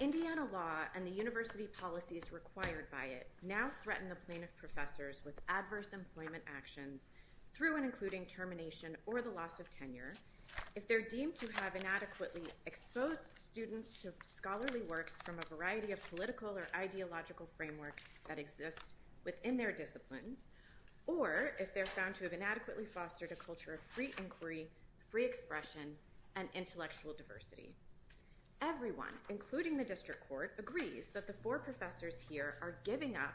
Indiana Law and the university policies required by it now threaten the plane of professors with adverse employment actions through and including termination or the loss of tenure if they're deemed to have inadequately exposed students to scholarly works from a variety of political or ideological frameworks that exist within their disciplines or if they're found to have inadequately fostered a culture of free inquiry, free expression and intellectual diversity. Everyone including the district court agrees that the four professors here are giving up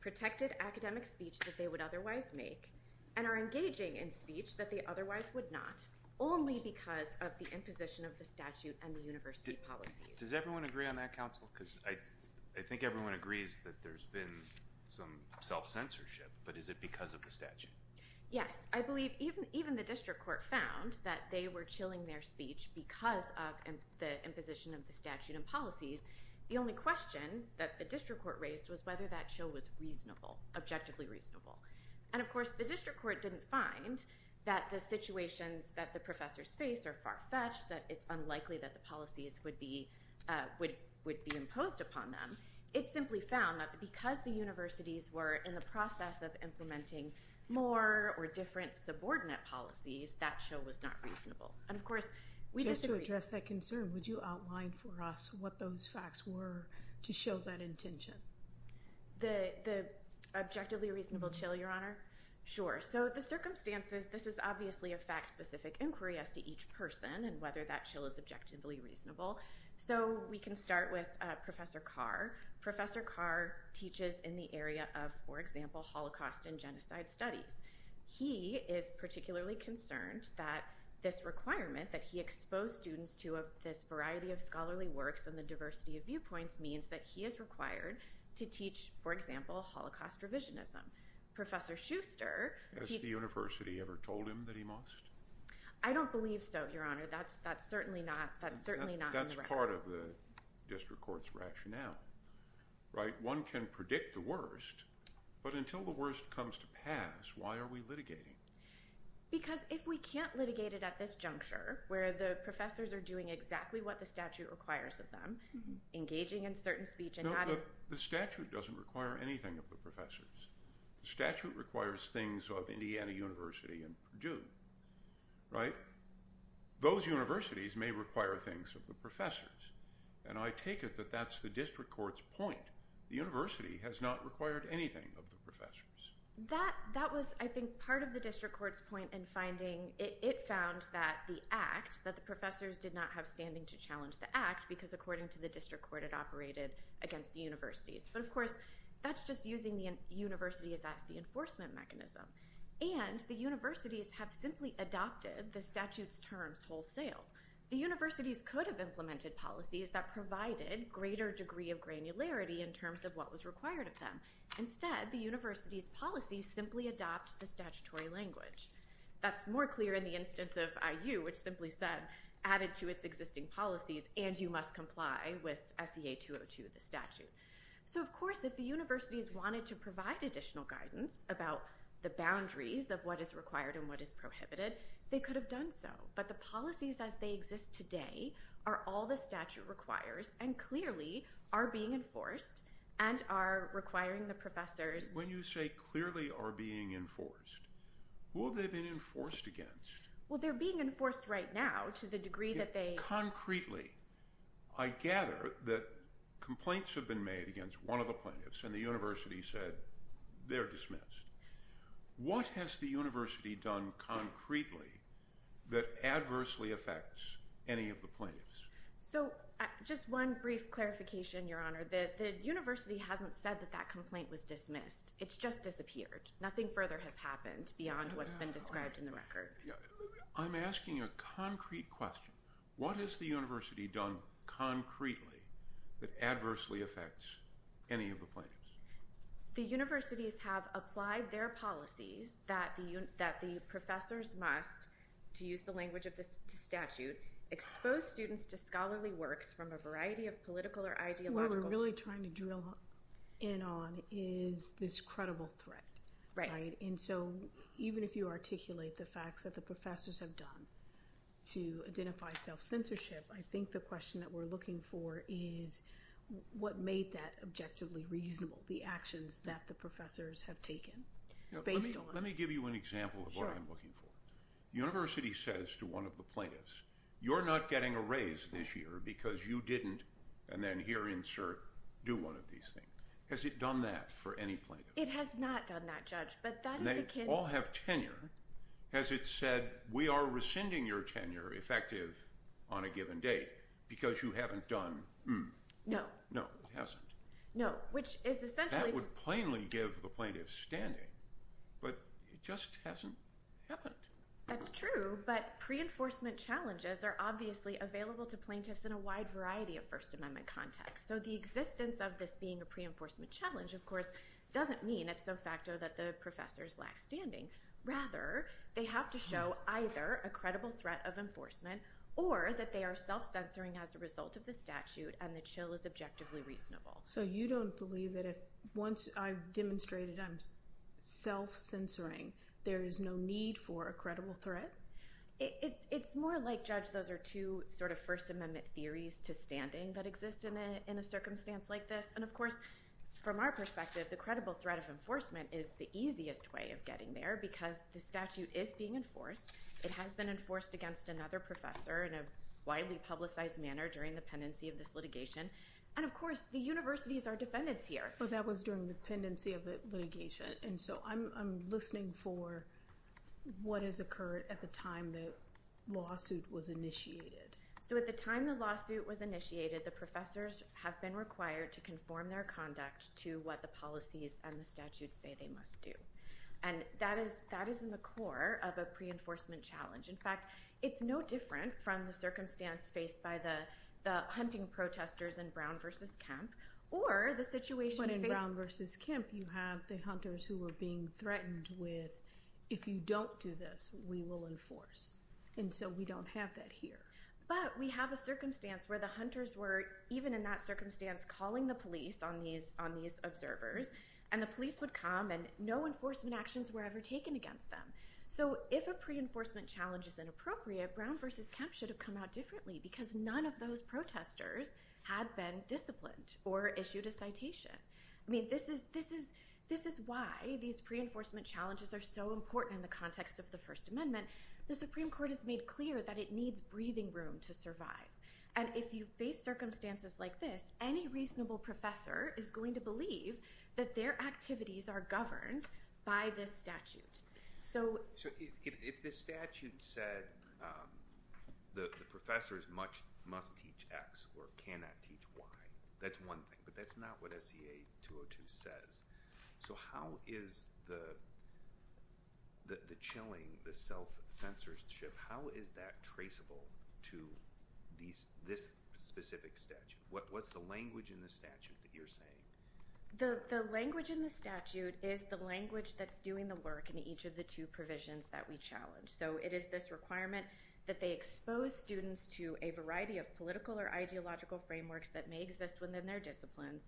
protected academic speech that they would otherwise make and are engaging in speech that they otherwise would not only because of the imposition of the statute and the university policies. Does everyone agree on that counsel because I think everyone agrees that there's been some self-censorship but is it because of the statute? Yes, I believe even the district court found that they were chilling their speech because of the imposition of the statute and policies. The only question that the district court raised was whether that show was reasonable, objectively reasonable. And of course the district court didn't find that the situations that the professors face are far-fetched, that it's unlikely that the policies would be imposed upon them. It simply found that because the universities were in the process of implementing more or different subordinate policies, that show was not reasonable. And of course we disagree. Just to address that concern, would you outline for us what those facts were to show that intention? The objectively reasonable chill, your honor? Sure. So the circumstances, this is obviously a fact-specific inquiry as to each person and whether that chill is objectively reasonable. So we can start with Professor Carr. Professor Carr teaches in the area of, for example, Holocaust and genocide studies. He is particularly concerned that this requirement that he exposed students to of this variety of scholarly works and the diversity of viewpoints means that he is required to teach, for example, Holocaust revisionism. Professor Schuster... Has the university ever told him that he must? I don't believe so, your honor. That's certainly not in the record. That's part of the district court's rationale, right? One can predict the worst, but until the worst comes to pass, why are we litigating? Because if we can't litigate it at this juncture, where the professors are doing exactly what the statute requires of them, engaging in certain speech and not in... The statute doesn't require anything of the professors. The statute requires things of Indiana University and Purdue, right? Those universities may require things of the professors. And I take it that that's the district court's point. The university has not required anything of the professors. That was, I think, part of the district court's point in finding... It found that the act, that the professors did not have standing to challenge the act because according to the district court, it operated against the universities. But of course, that's just using the universities as the enforcement mechanism. And the universities have simply adopted the statute's terms wholesale. The universities could have implemented policies that provided greater degree of granularity in terms of what was required of them. Instead, the university's policies simply adopt the statutory language. That's more clear in the instance of IU, which simply said, added to its existing policies, and you must comply with SEA 202, the statute. So of course, if the universities wanted to provide additional guidance about the boundaries of what is required and what is prohibited, they could have done so. But the policies as they exist today are all the statute requires and clearly are being enforced and are requiring the professors... When you say clearly are being enforced, who have they been enforced against? Well, they're being enforced right now to the degree that they... Concretely, I gather that complaints have been made against one of the plaintiffs and the university said they're dismissed. What has the university done concretely that adversely affects any of the plaintiffs? So, just one brief clarification, Your Honor. The university hasn't said that that complaint was dismissed. It's just disappeared. Nothing further has happened beyond what's been described in the record. I'm asking a concrete question. What has the university done concretely that adversely affects any of the plaintiffs? The universities have applied their policies that the professors must, to use the language of this statute, expose students to scholarly works from a variety of political or ideological... What we're really trying to drill in on is this credible threat. Right. And so, even if you articulate the facts that the professors have done to identify self-censorship, I think the question that we're looking for is what made that objectively reasonable, the actions that the professors have taken based on... Let me give you an example of what I'm looking for. The university says to one of the plaintiffs, you're not getting a raise this year because you didn't, and then here, insert, do one of these things. Has it done that for any plaintiff? It has not done that, Judge, but that is akin... And they all have tenure. Has it said, we are rescinding your tenure, effective on a given date, because you haven't done, hmm? No. No, it hasn't. No, which is essentially... That would plainly give the plaintiff standing, but it just hasn't happened. That's true, but pre-enforcement challenges are obviously available to plaintiffs in a wide variety of First Amendment contexts, so the existence of this being a pre-enforcement challenge, of course, doesn't mean, ipso facto, that the professors lack standing. Rather, they have to show either a credible threat of enforcement or that they are self-censoring as a result of the statute and the chill is objectively reasonable. So you don't believe that if, once I've demonstrated I'm self-censoring, there is no need for a credible threat? It's more like, Judge, those are two sort of First Amendment theories to standing that exist in a circumstance like this, and of course, from our perspective, the credible threat of enforcement is the easiest way of getting there because the statute is being enforced, it has been enforced against another professor in a widely publicized manner during the pendency of this litigation, and of course, the universities are defendants here. Well, that was during the pendency of the litigation, and so I'm listening for what has occurred at the time the lawsuit was initiated. So at the time the lawsuit was initiated, the professors have been required to conform their conduct to what the policies and the statutes say they must do, and that is in the core of a pre-enforcement challenge. In fact, it's no different from the circumstance faced by the hunting protesters in Brown v. Kemp or the situation faced... When in Brown v. Kemp, you have the hunters who were being threatened with, if you don't do this, we will enforce, and so we don't have that here. But we have a circumstance where the hunters were, even in that circumstance, calling the police on these observers, and the police would come, and no enforcement actions were ever taken against them. So if a pre-enforcement challenge is inappropriate, Brown v. Kemp should have come out differently because none of those protesters had been disciplined or issued a citation. I mean, this is why these pre-enforcement challenges are so important in the context of the First Amendment, the Supreme Court has made clear that it needs breathing room to survive. And if you face circumstances like this, any reasonable professor is going to believe that their activities are governed by this statute. So... So if this statute said the professors must teach X or cannot teach Y, that's one thing, but that's not what SCA 202 says. So how is the chilling, the self-censorship, how is that traceable to this specific statute? What's the language in the statute that you're saying? The language in the statute is the language that's doing the work in each of the two provisions that we challenge. So it is this requirement that they expose students to a variety of political or ideological frameworks that may exist within their disciplines,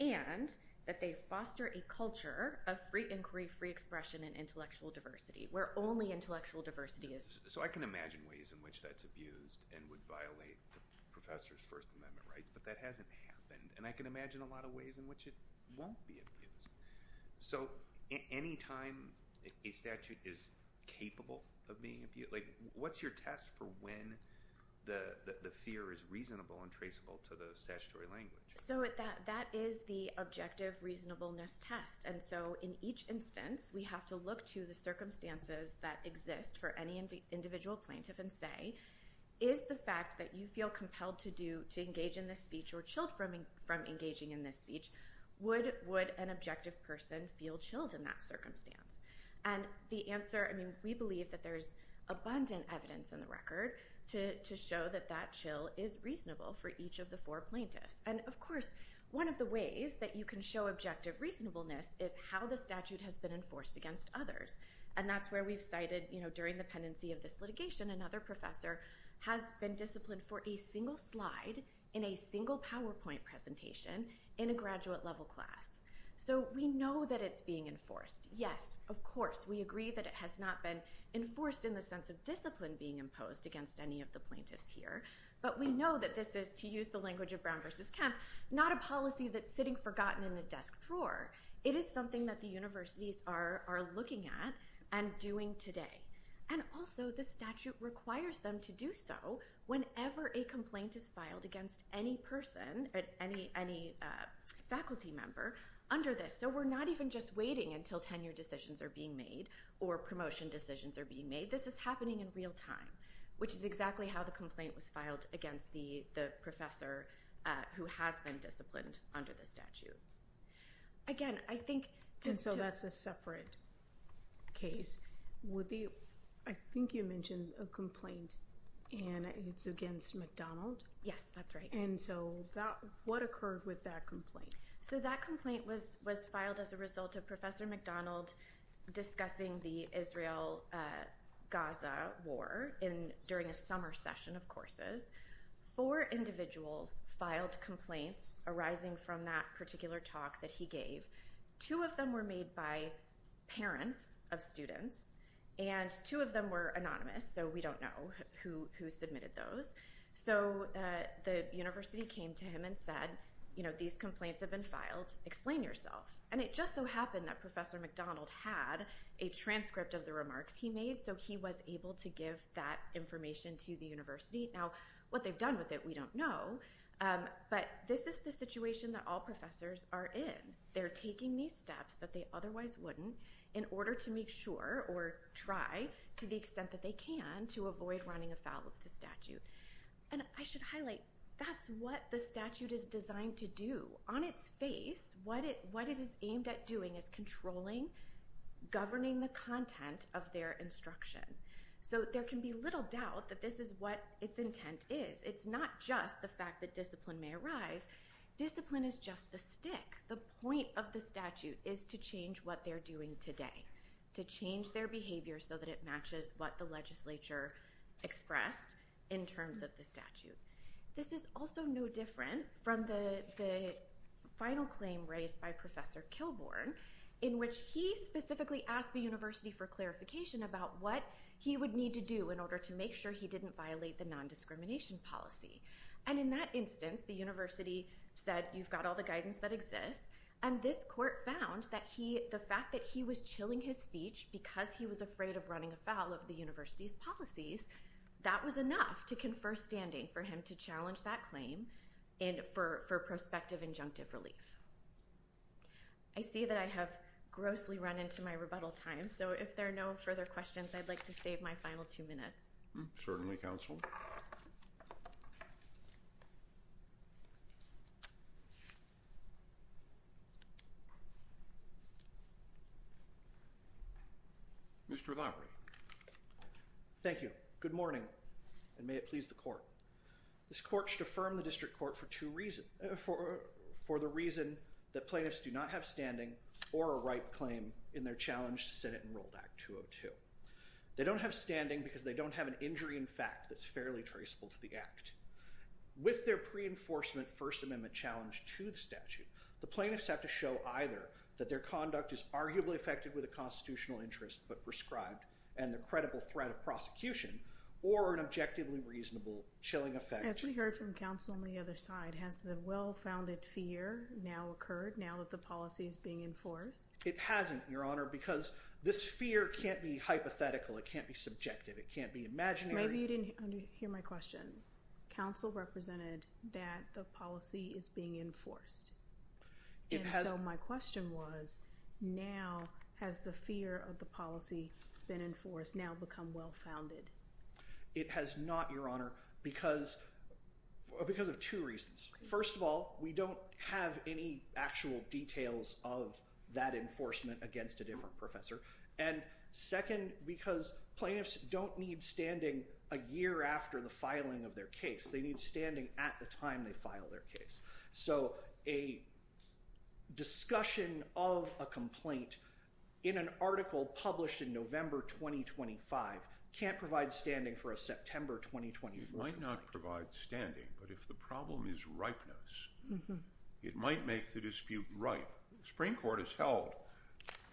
and that they foster a culture of free inquiry, free expression, and intellectual diversity, where only intellectual diversity is... So I can imagine ways in which that's abused and would violate the professor's First Amendment rights, but that hasn't happened. And I can imagine a lot of ways in which it won't be abused. So any time a statute is capable of being abused, like, what's your test for when the fear is reasonable and traceable to the statutory language? So that is the objective reasonableness test. And so in each instance, we have to look to the circumstances that exist for any individual plaintiff and say, is the fact that you feel compelled to do, to engage in this speech or chilled from engaging in this speech, would an objective person feel chilled in that circumstance? And the answer, I mean, we believe that there's abundant evidence in the record to show that that chill is reasonable for each of the four plaintiffs. And of course, one of the ways that you can show objective reasonableness is how the statute has been enforced against others. And that's where we've cited, you know, during the pendency of this litigation, another professor has been disciplined for a single slide in a single PowerPoint presentation in a graduate level class. So we know that it's being enforced. Yes, of course, we agree that it has not been enforced in the sense of discipline being imposed against any of the plaintiffs here. But we know that this is, to use the language of Brown versus Kemp, not a policy that's sitting forgotten in a desk drawer. It is something that the universities are looking at and doing today. And also, the statute requires them to do so whenever a complaint is filed against any person, any faculty member under this. So we're not even just waiting until tenure decisions are being made or promotion decisions are being made. This is happening in real time, which is exactly how the complaint was filed against the professor who has been disciplined under the statute. Again, I think. And so that's a separate case. Would the I think you mentioned a complaint and it's against McDonald. Yes, that's right. And so that what occurred with that complaint? So that complaint was was filed as a result of Professor McDonald discussing the Israel Gaza war in during a summer session, of course, for individuals filed complaints arising from that particular talk that he gave. Two of them were made by parents of students and two of them were anonymous, so we don't know who who submitted those. So the university came to him and said, you know, these complaints have been filed. Explain yourself. And it just so happened that Professor McDonald had a transcript of the remarks he made. So he was able to give that information to the university. Now, what they've done with it, we don't know. But this is the situation that all professors are in. They're taking these steps that they otherwise wouldn't in order to make sure or try to the extent that they can to avoid running afoul of the statute. And I should highlight that's what the statute is designed to do on its face. What it what it is aimed at doing is controlling, governing the content of their instruction. So there can be little doubt that this is what its intent is. It's not just the fact that discipline may arise. Discipline is just the stick. The point of the statute is to change what they're doing today, to change their behavior so that it matches what the legislature expressed in terms of the statute. This is also no different from the the final claim raised by Professor Kilbourn, in which he specifically asked the university for clarification about what he would need to do in order to make sure he didn't violate the nondiscrimination policy. And in that instance, the university said, you've got all the guidance that exists. And this court found that he the fact that he was chilling his speech because he was afraid of running afoul of the university's policies. That was enough to confer standing for him to challenge that claim and for for prospective injunctive relief. I see that I have grossly run into my rebuttal time, so if there are no further questions, I'd like to save my final two minutes. Certainly, counsel. Mr. Lopry. Thank you. Good morning. And may it please the court. This court should affirm the district court for two reasons. For for the reason that plaintiffs do not have standing or a right claim in their challenge to Senate Enrolled Act 202. They don't have standing because they don't have an injury. In fact, that's fairly traceable to the act with their pre enforcement First Amendment challenge to the statute. The plaintiffs have to show either that their conduct is arguably affected with a constitutional interest, but prescribed and the credible threat of prosecution or an objectively reasonable chilling effect. As we heard from counsel on the other side, has the well-founded fear now occurred now that the policy is being enforced? It hasn't, Your Honor, because this fear can't be hypothetical. It can't be subjective. It can't be imaginary. Maybe you didn't hear my question. Counsel represented that the policy is being enforced. It has. So my question was, now, has the fear of the policy been enforced now become well-founded? It has not, Your Honor, because because of two reasons. First of all, we don't have any actual details of that enforcement against a different professor. And second, because plaintiffs don't need standing a year after the filing of their case, they need standing at the time they file their case. So a discussion of a complaint in an article published in November 2025 can't provide standing for a September 2024. It might not provide standing, but if the problem is ripeness, it might make the dispute ripe. The Supreme Court has held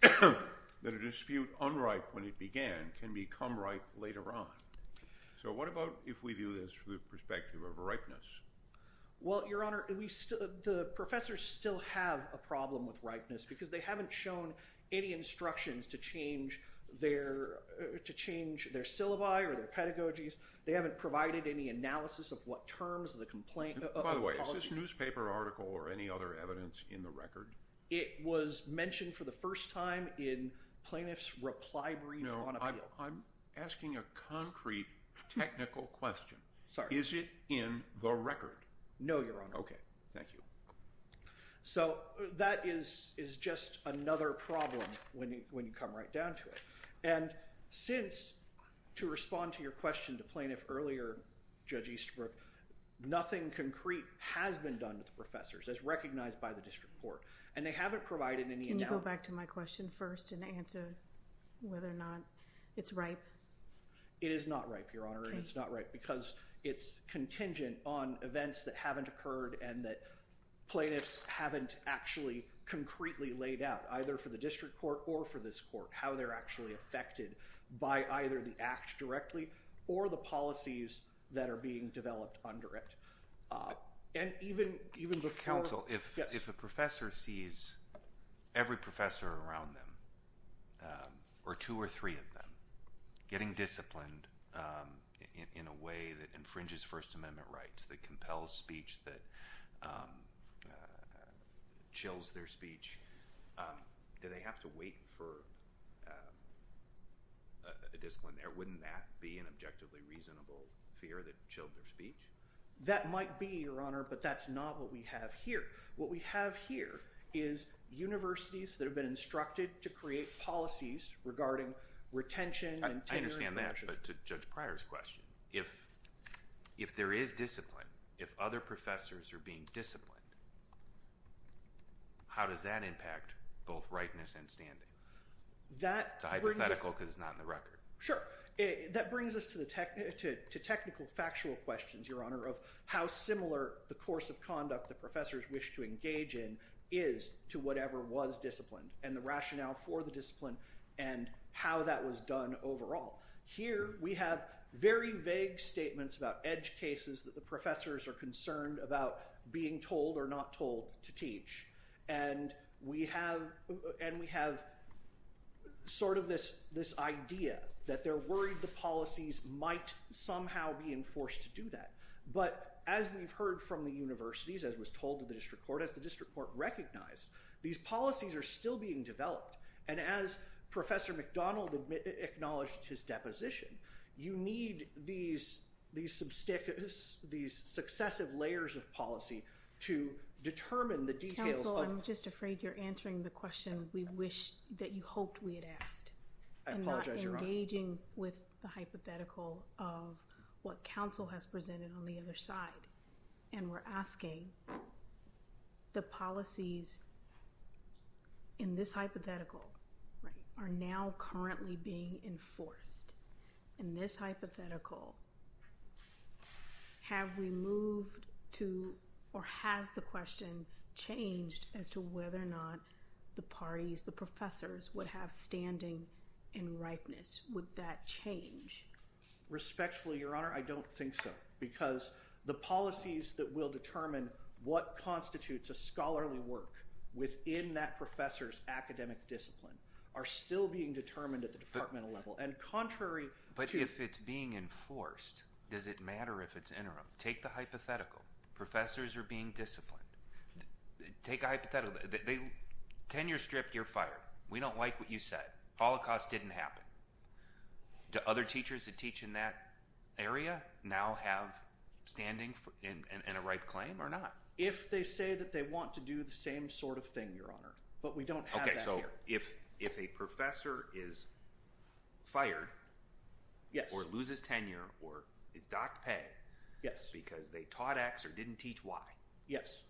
that a dispute unripe when it began can become ripe later on. So what about if we do this from the perspective of ripeness? Well, Your Honor, the professors still have a problem with ripeness because they haven't shown any instructions to change their syllabi or their pedagogies. They haven't provided any analysis of what terms of the complaint. By the way, is this newspaper article or any other evidence in the record? It was mentioned for the first time in plaintiff's reply brief on appeal. I'm asking a concrete, technical question. Sorry. Is it in the record? No, Your Honor. OK, thank you. So that is is just another problem when you when you come right down to it. And since to respond to your question to plaintiff earlier, Judge Easterbrook, nothing concrete has been done with the professors as recognized by the district court, and they haven't provided any. Can you go back to my question first and answer whether or not it's ripe? It is not ripe, Your Honor, and it's not right because it's contingent on events that haven't occurred and that plaintiffs haven't actually concretely laid out either for the district court or for this court, how they're actually affected by either the act directly or the policies that are being developed under it. And even even before counsel, if if a professor sees every professor around them or two or three of them getting disciplined in a way that infringes First Amendment rights, that compels speech, that chills their speech. Do they have to wait for a discipline there? Wouldn't that be an objectively reasonable fear that chilled their speech? That might be, Your Honor, but that's not what we have here. What we have here is universities that have been instructed to create policies regarding retention and tenure. I understand that, but to Judge Pryor's question, if if there is discipline, if other professors are being disciplined, how does that impact both rightness and standing? That's a hypothetical because it's not in the record. Sure. That brings us to the technical, to technical, factual questions, Your Honor, of how similar the course of conduct the professors wish to engage in is to whatever was disciplined and the rationale for the discipline and how that was done overall. Here we have very vague statements about edge cases that the professors are concerned about being told or not told to teach. And we have and we have sort of this this idea that they're worried the policies might somehow be enforced to do that. But as we've heard from the universities, as was told to the district court, as the district court recognized, these policies are still being developed. And as Professor McDonald acknowledged his deposition, you need these, these, these successive layers of policy to determine the details. Counsel, I'm just afraid you're answering the question we wish that you hoped we had asked. I apologize, Your Honor. Engaging with the hypothetical of what counsel has presented on the other side. And we're asking the policies in this hypothetical are now currently being enforced. In this hypothetical. Have we moved to or has the question changed as to whether or not the parties, the professors would have standing in ripeness with that change? Respectfully, Your Honor, I don't think so, because the policies that will determine what constitutes a scholarly work within that professor's academic discipline are still being determined at the departmental level. And contrary. But if it's being enforced, does it matter if it's interim? Take the hypothetical. Professors are being disciplined. Take a hypothetical. They tenure stripped, you're fired. We don't like what you said. Holocaust didn't happen. Do other teachers that teach in that area now have standing in a ripe claim or not? If they say that they want to do the same sort of thing, Your Honor. But we don't have that here. If if a professor is fired. Yes. Or loses tenure or is docked pay. Yes. Because they taught X or didn't teach Y. Yes.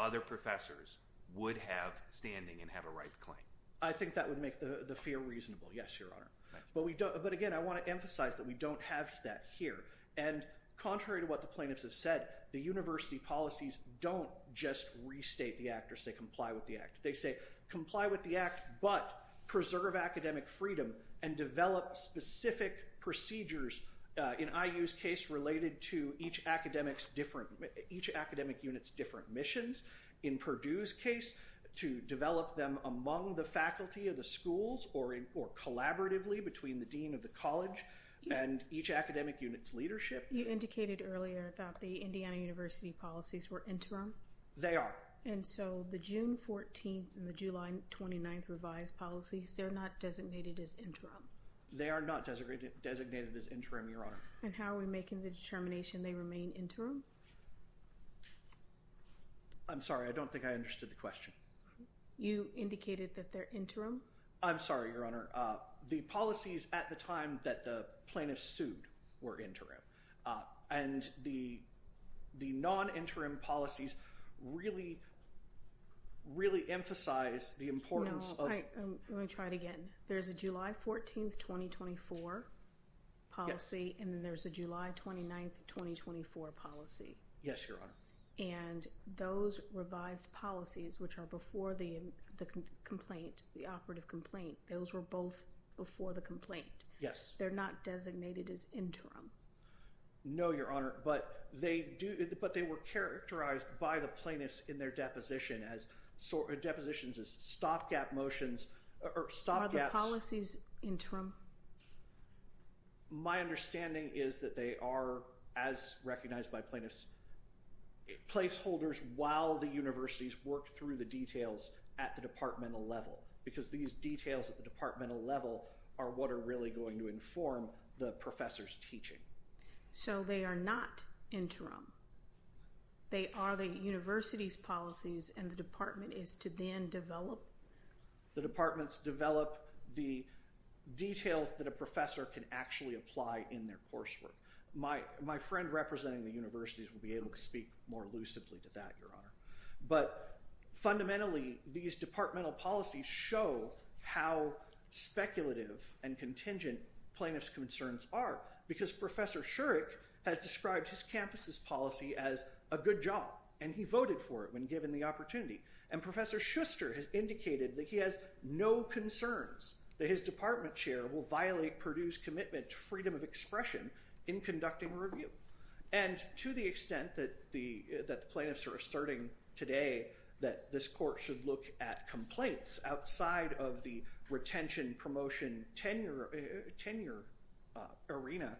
Other professors would have standing and have a right claim. I think that would make the fear reasonable. Yes, Your Honor. But we don't. But again, I want to emphasize that we don't have that here. And contrary to what the plaintiffs have said, the university policies don't just restate the act or say comply with the act. They say comply with the act, but preserve academic freedom and develop specific procedures. In IU's case, related to each academics, different each academic units, different missions in Purdue's case to develop them among the faculty of the schools or or collaboratively between the dean of the college and each academic unit's leadership. You indicated earlier that the Indiana University policies were interim. They are. And so the June 14th and the July 29th revised policies, they're not designated as interim. They are not designated designated as interim, Your Honor. And how are we making the determination they remain interim? I'm sorry, I don't think I understood the question. You indicated that they're interim. I'm sorry, Your Honor. The policies at the time that the plaintiffs sued were interim. And the the non-interim policies really. Really emphasize the importance of. Let me try it again. There's a July 14th, 2024 policy, and there's a July 29th, 2024 policy. Yes, Your Honor. And those revised policies, which are before the complaint, the operative complaint, those were both before the complaint. Yes. They're not designated as interim. No, Your Honor. But they do. But they were characterized by the plaintiffs in their deposition as depositions as stopgap motions or stopgap policies interim. My understanding is that they are, as recognized by plaintiffs, placeholders while the universities work through the details at the departmental level, because these details at the departmental level are what are really going to inform the professor's teaching. So they are not interim. They are the university's policies, and the department is to then develop. The departments develop the details that a professor can actually apply in their coursework. My my friend representing the universities will be able to speak more lucidly to that, Your Honor. But fundamentally, these departmental policies show how speculative and contingent plaintiff's concerns are, because Professor Shurik has described his campus's policy as a good job, and he voted for it when given the opportunity. And Professor Schuster has indicated that he has no concerns that his department chair will violate Purdue's commitment to freedom of expression in conducting a review. And to the extent that the that the plaintiffs are asserting today that this court should look at complaints outside of the retention, promotion, tenure, tenure arena,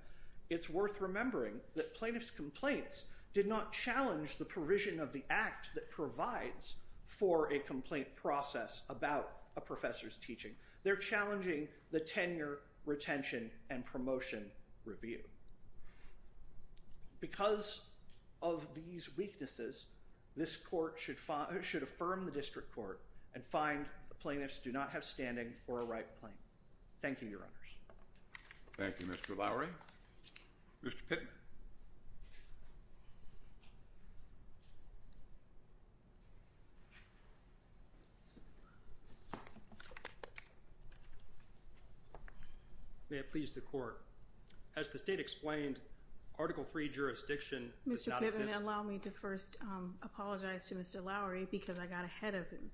it's worth remembering that plaintiff's complaints did not challenge the provision of the act that provides for a complaint process about a professor's teaching. They're challenging the tenure, retention and promotion review. Because of these weaknesses, this court should should affirm the district court and find the plaintiffs do not have standing for a right claim. Thank you, Your Honors. Thank you, Mr. Lowry. Mr. Pittman. May it please the court, as the state explained, Article three jurisdiction. Mr. Pittman, allow me to first apologize to Mr. Lowry because I got ahead of him.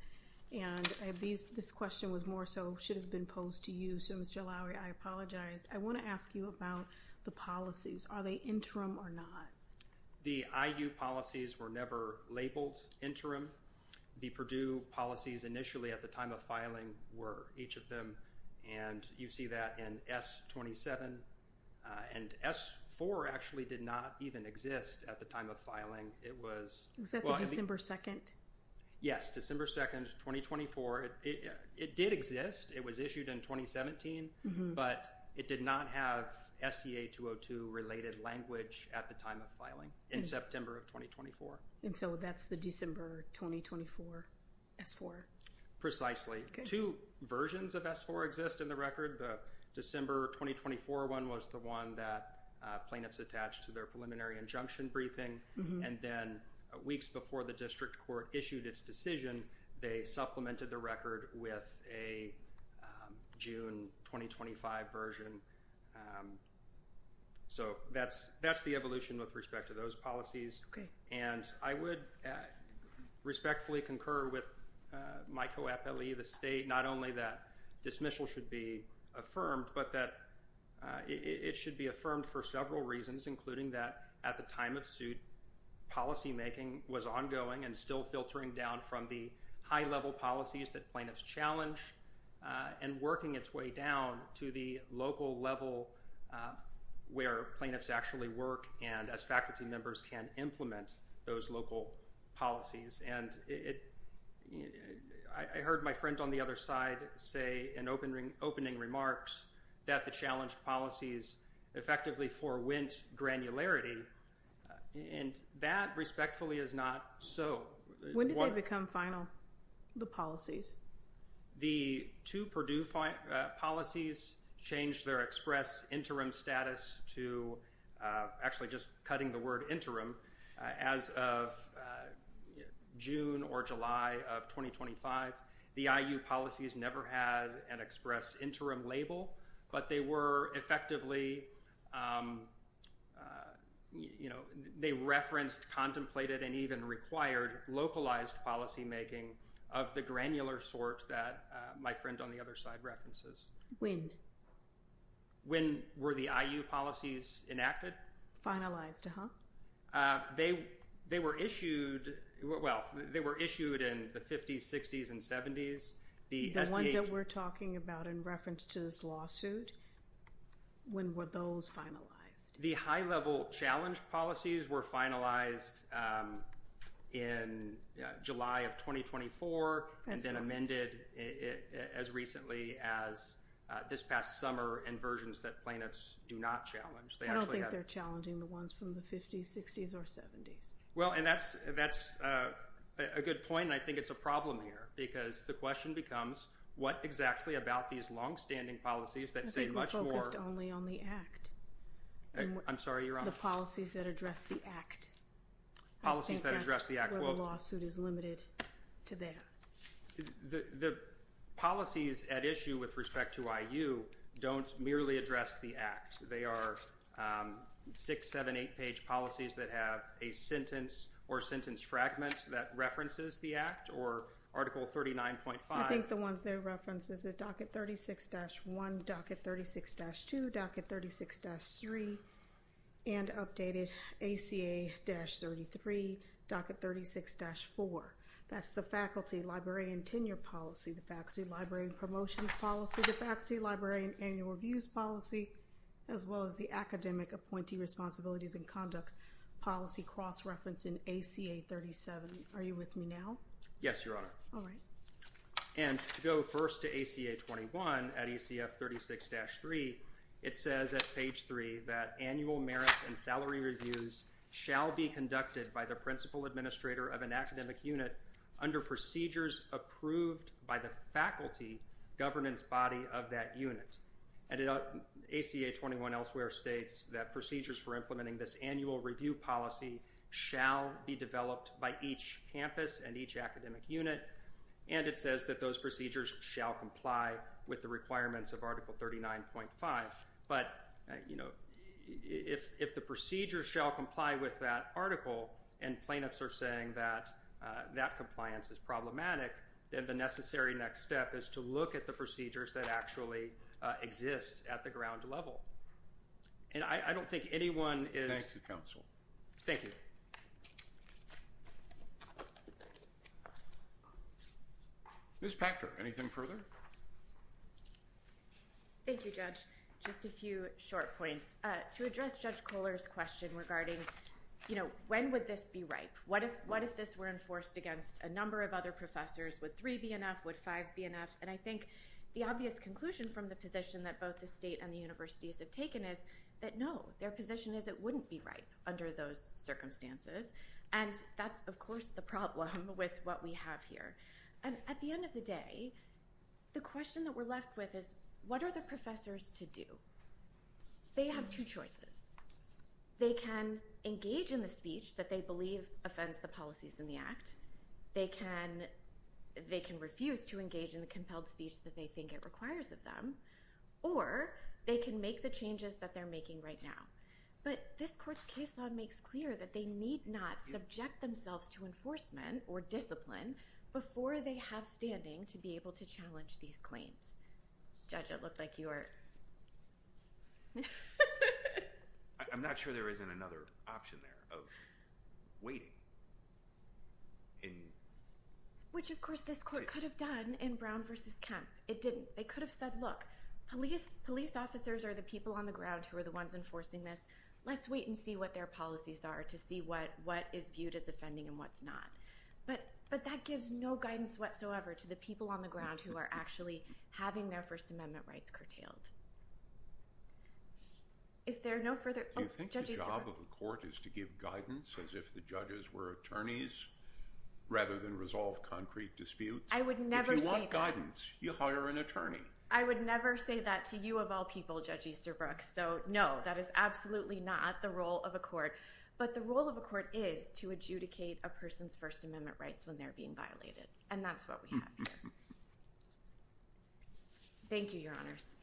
And this question was more so should have been posed to you. So, Mr. Lowry, I apologize. I want to ask you about the policies. Are they interim or not? The IU policies were never labeled interim. The Purdue policies initially at the time of filing were each of them. And you see that in S-27 and S-4 actually did not even exist at the time of filing. It was December 2nd. Yes. December 2nd, 2024. It did exist. It was issued in 2017, but it did not have SCA 202 related language at the time of filing in September of 2024. And so that's the December 2024 S-4. Precisely. Two versions of S-4 exist in the record. The December 2024 one was the one that plaintiffs attached to their preliminary injunction briefing. And then weeks before the district court issued its decision, they supplemented the record with a June 2025 version. So that's that's the evolution with respect to those policies. And I would respectfully concur with my co-appellee, the state, not only that dismissal should be affirmed, but that it should be affirmed for several reasons, including that at the time of suit, policymaking was ongoing and still filtering down from the high level policies that plaintiffs challenge and working its way down to the local level where plaintiffs actually work. And as faculty members can implement those local policies and it I heard my friend on the other side say in opening opening remarks that the challenged policies effectively forwent granularity and that respectfully is not so. When did they become final? The policies? The two Purdue policies changed their express interim status to actually just cutting the word interim as of June or July of 2025. The IU policies never had an express interim label, but they were effectively you know, they referenced, contemplated and even required localized policymaking of the granular sort that my friend on the other side references. When? When were the IU policies enacted? Finalized, huh? They they were issued. Well, they were issued in the 50s, 60s and 70s. The ones that we're talking about in reference to this lawsuit. When were those finalized? The high level challenge policies were finalized in July of 2024 and then amended as recently as this past summer and versions that plaintiffs do not challenge. I don't think they're challenging the ones from the 50s, 60s or 70s. Well, and that's that's a good point. And I think it's a problem here because the question becomes what exactly about these longstanding policies that say much more only on the act? I'm sorry, Your Honor. The policies that address the act. Policies that address the act. Well, the lawsuit is limited to that. The policies at issue with respect to IU don't merely address the act. They are six, seven, eight page policies that have a sentence or sentence fragment that references the act or Article 39.5. I think the ones they reference is a docket 36-1, docket 36-2, docket 36-3 and updated ACA-33, docket 36-4. That's the faculty, library and tenure policy, the faculty, library and promotions policy, the faculty, library and annual reviews policy, as well as the academic appointee responsibilities and conduct policy cross reference in ACA-37. Are you with me now? Yes, Your Honor. All right. And to go first to ACA-21 at ACF-36-3, it says at page three that annual merits and salary reviews shall be conducted by the principal administrator of an academic unit under procedures approved by the faculty governance body of that unit. And ACA-21 elsewhere states that procedures for implementing this annual review policy shall be developed by each campus and each academic unit. And it says that those procedures shall comply with the requirements of Article 39.5. But, you know, if if the procedures shall comply with that article and plaintiffs are saying that that compliance is problematic, then the necessary next step is to look at the procedures that actually exist at the ground level. And I don't think anyone is. Thank you, counsel. Thank you. Ms. Pachter, anything further? Thank you, Judge. Just a few short points to address Judge Kohler's question regarding, you know, when would this be right? What if what if this were enforced against a number of other professors? Would three be enough? Would five be enough? And I think the obvious conclusion from the position that both the state and the universities have taken is that, no, their position is it wouldn't be right under those circumstances. And that's, of course, the problem with what we have here. And at the end of the day, the question that we're left with is, what are the professors to do? They have two choices. They can engage in the speech that they believe offends the policies in the act. They can they can refuse to engage in the compelled speech that they think it requires of them, or they can make the changes that they're making right now. But this court's case law makes clear that they need not subject themselves to enforcement or discipline before they have standing to be able to challenge these claims. Judge, it looked like you were. I'm not sure there isn't another option there of waiting. In which, of course, this court could have done in Brown versus Kemp. It didn't. They could have said, look, police, police officers are the people on the ground who are the ones enforcing this. Let's wait and see what their policies are to see what what is viewed as offending and what's not. But but that gives no guidance whatsoever to the people on the ground who are actually having their First Amendment rights curtailed. If there are no further. Do you think the job of the court is to give guidance as if the judges were attorneys rather than resolve concrete disputes? I would never want guidance. You hire an attorney. I would never say that to you of all people, Judge Easterbrook. So, no, that is absolutely not the role of a court. But the role of a court is to adjudicate a person's First Amendment rights when they're being violated. And that's what we have. Thank you, Your Honors.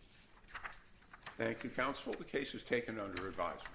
Thank you, counsel. The case is taken under advisement.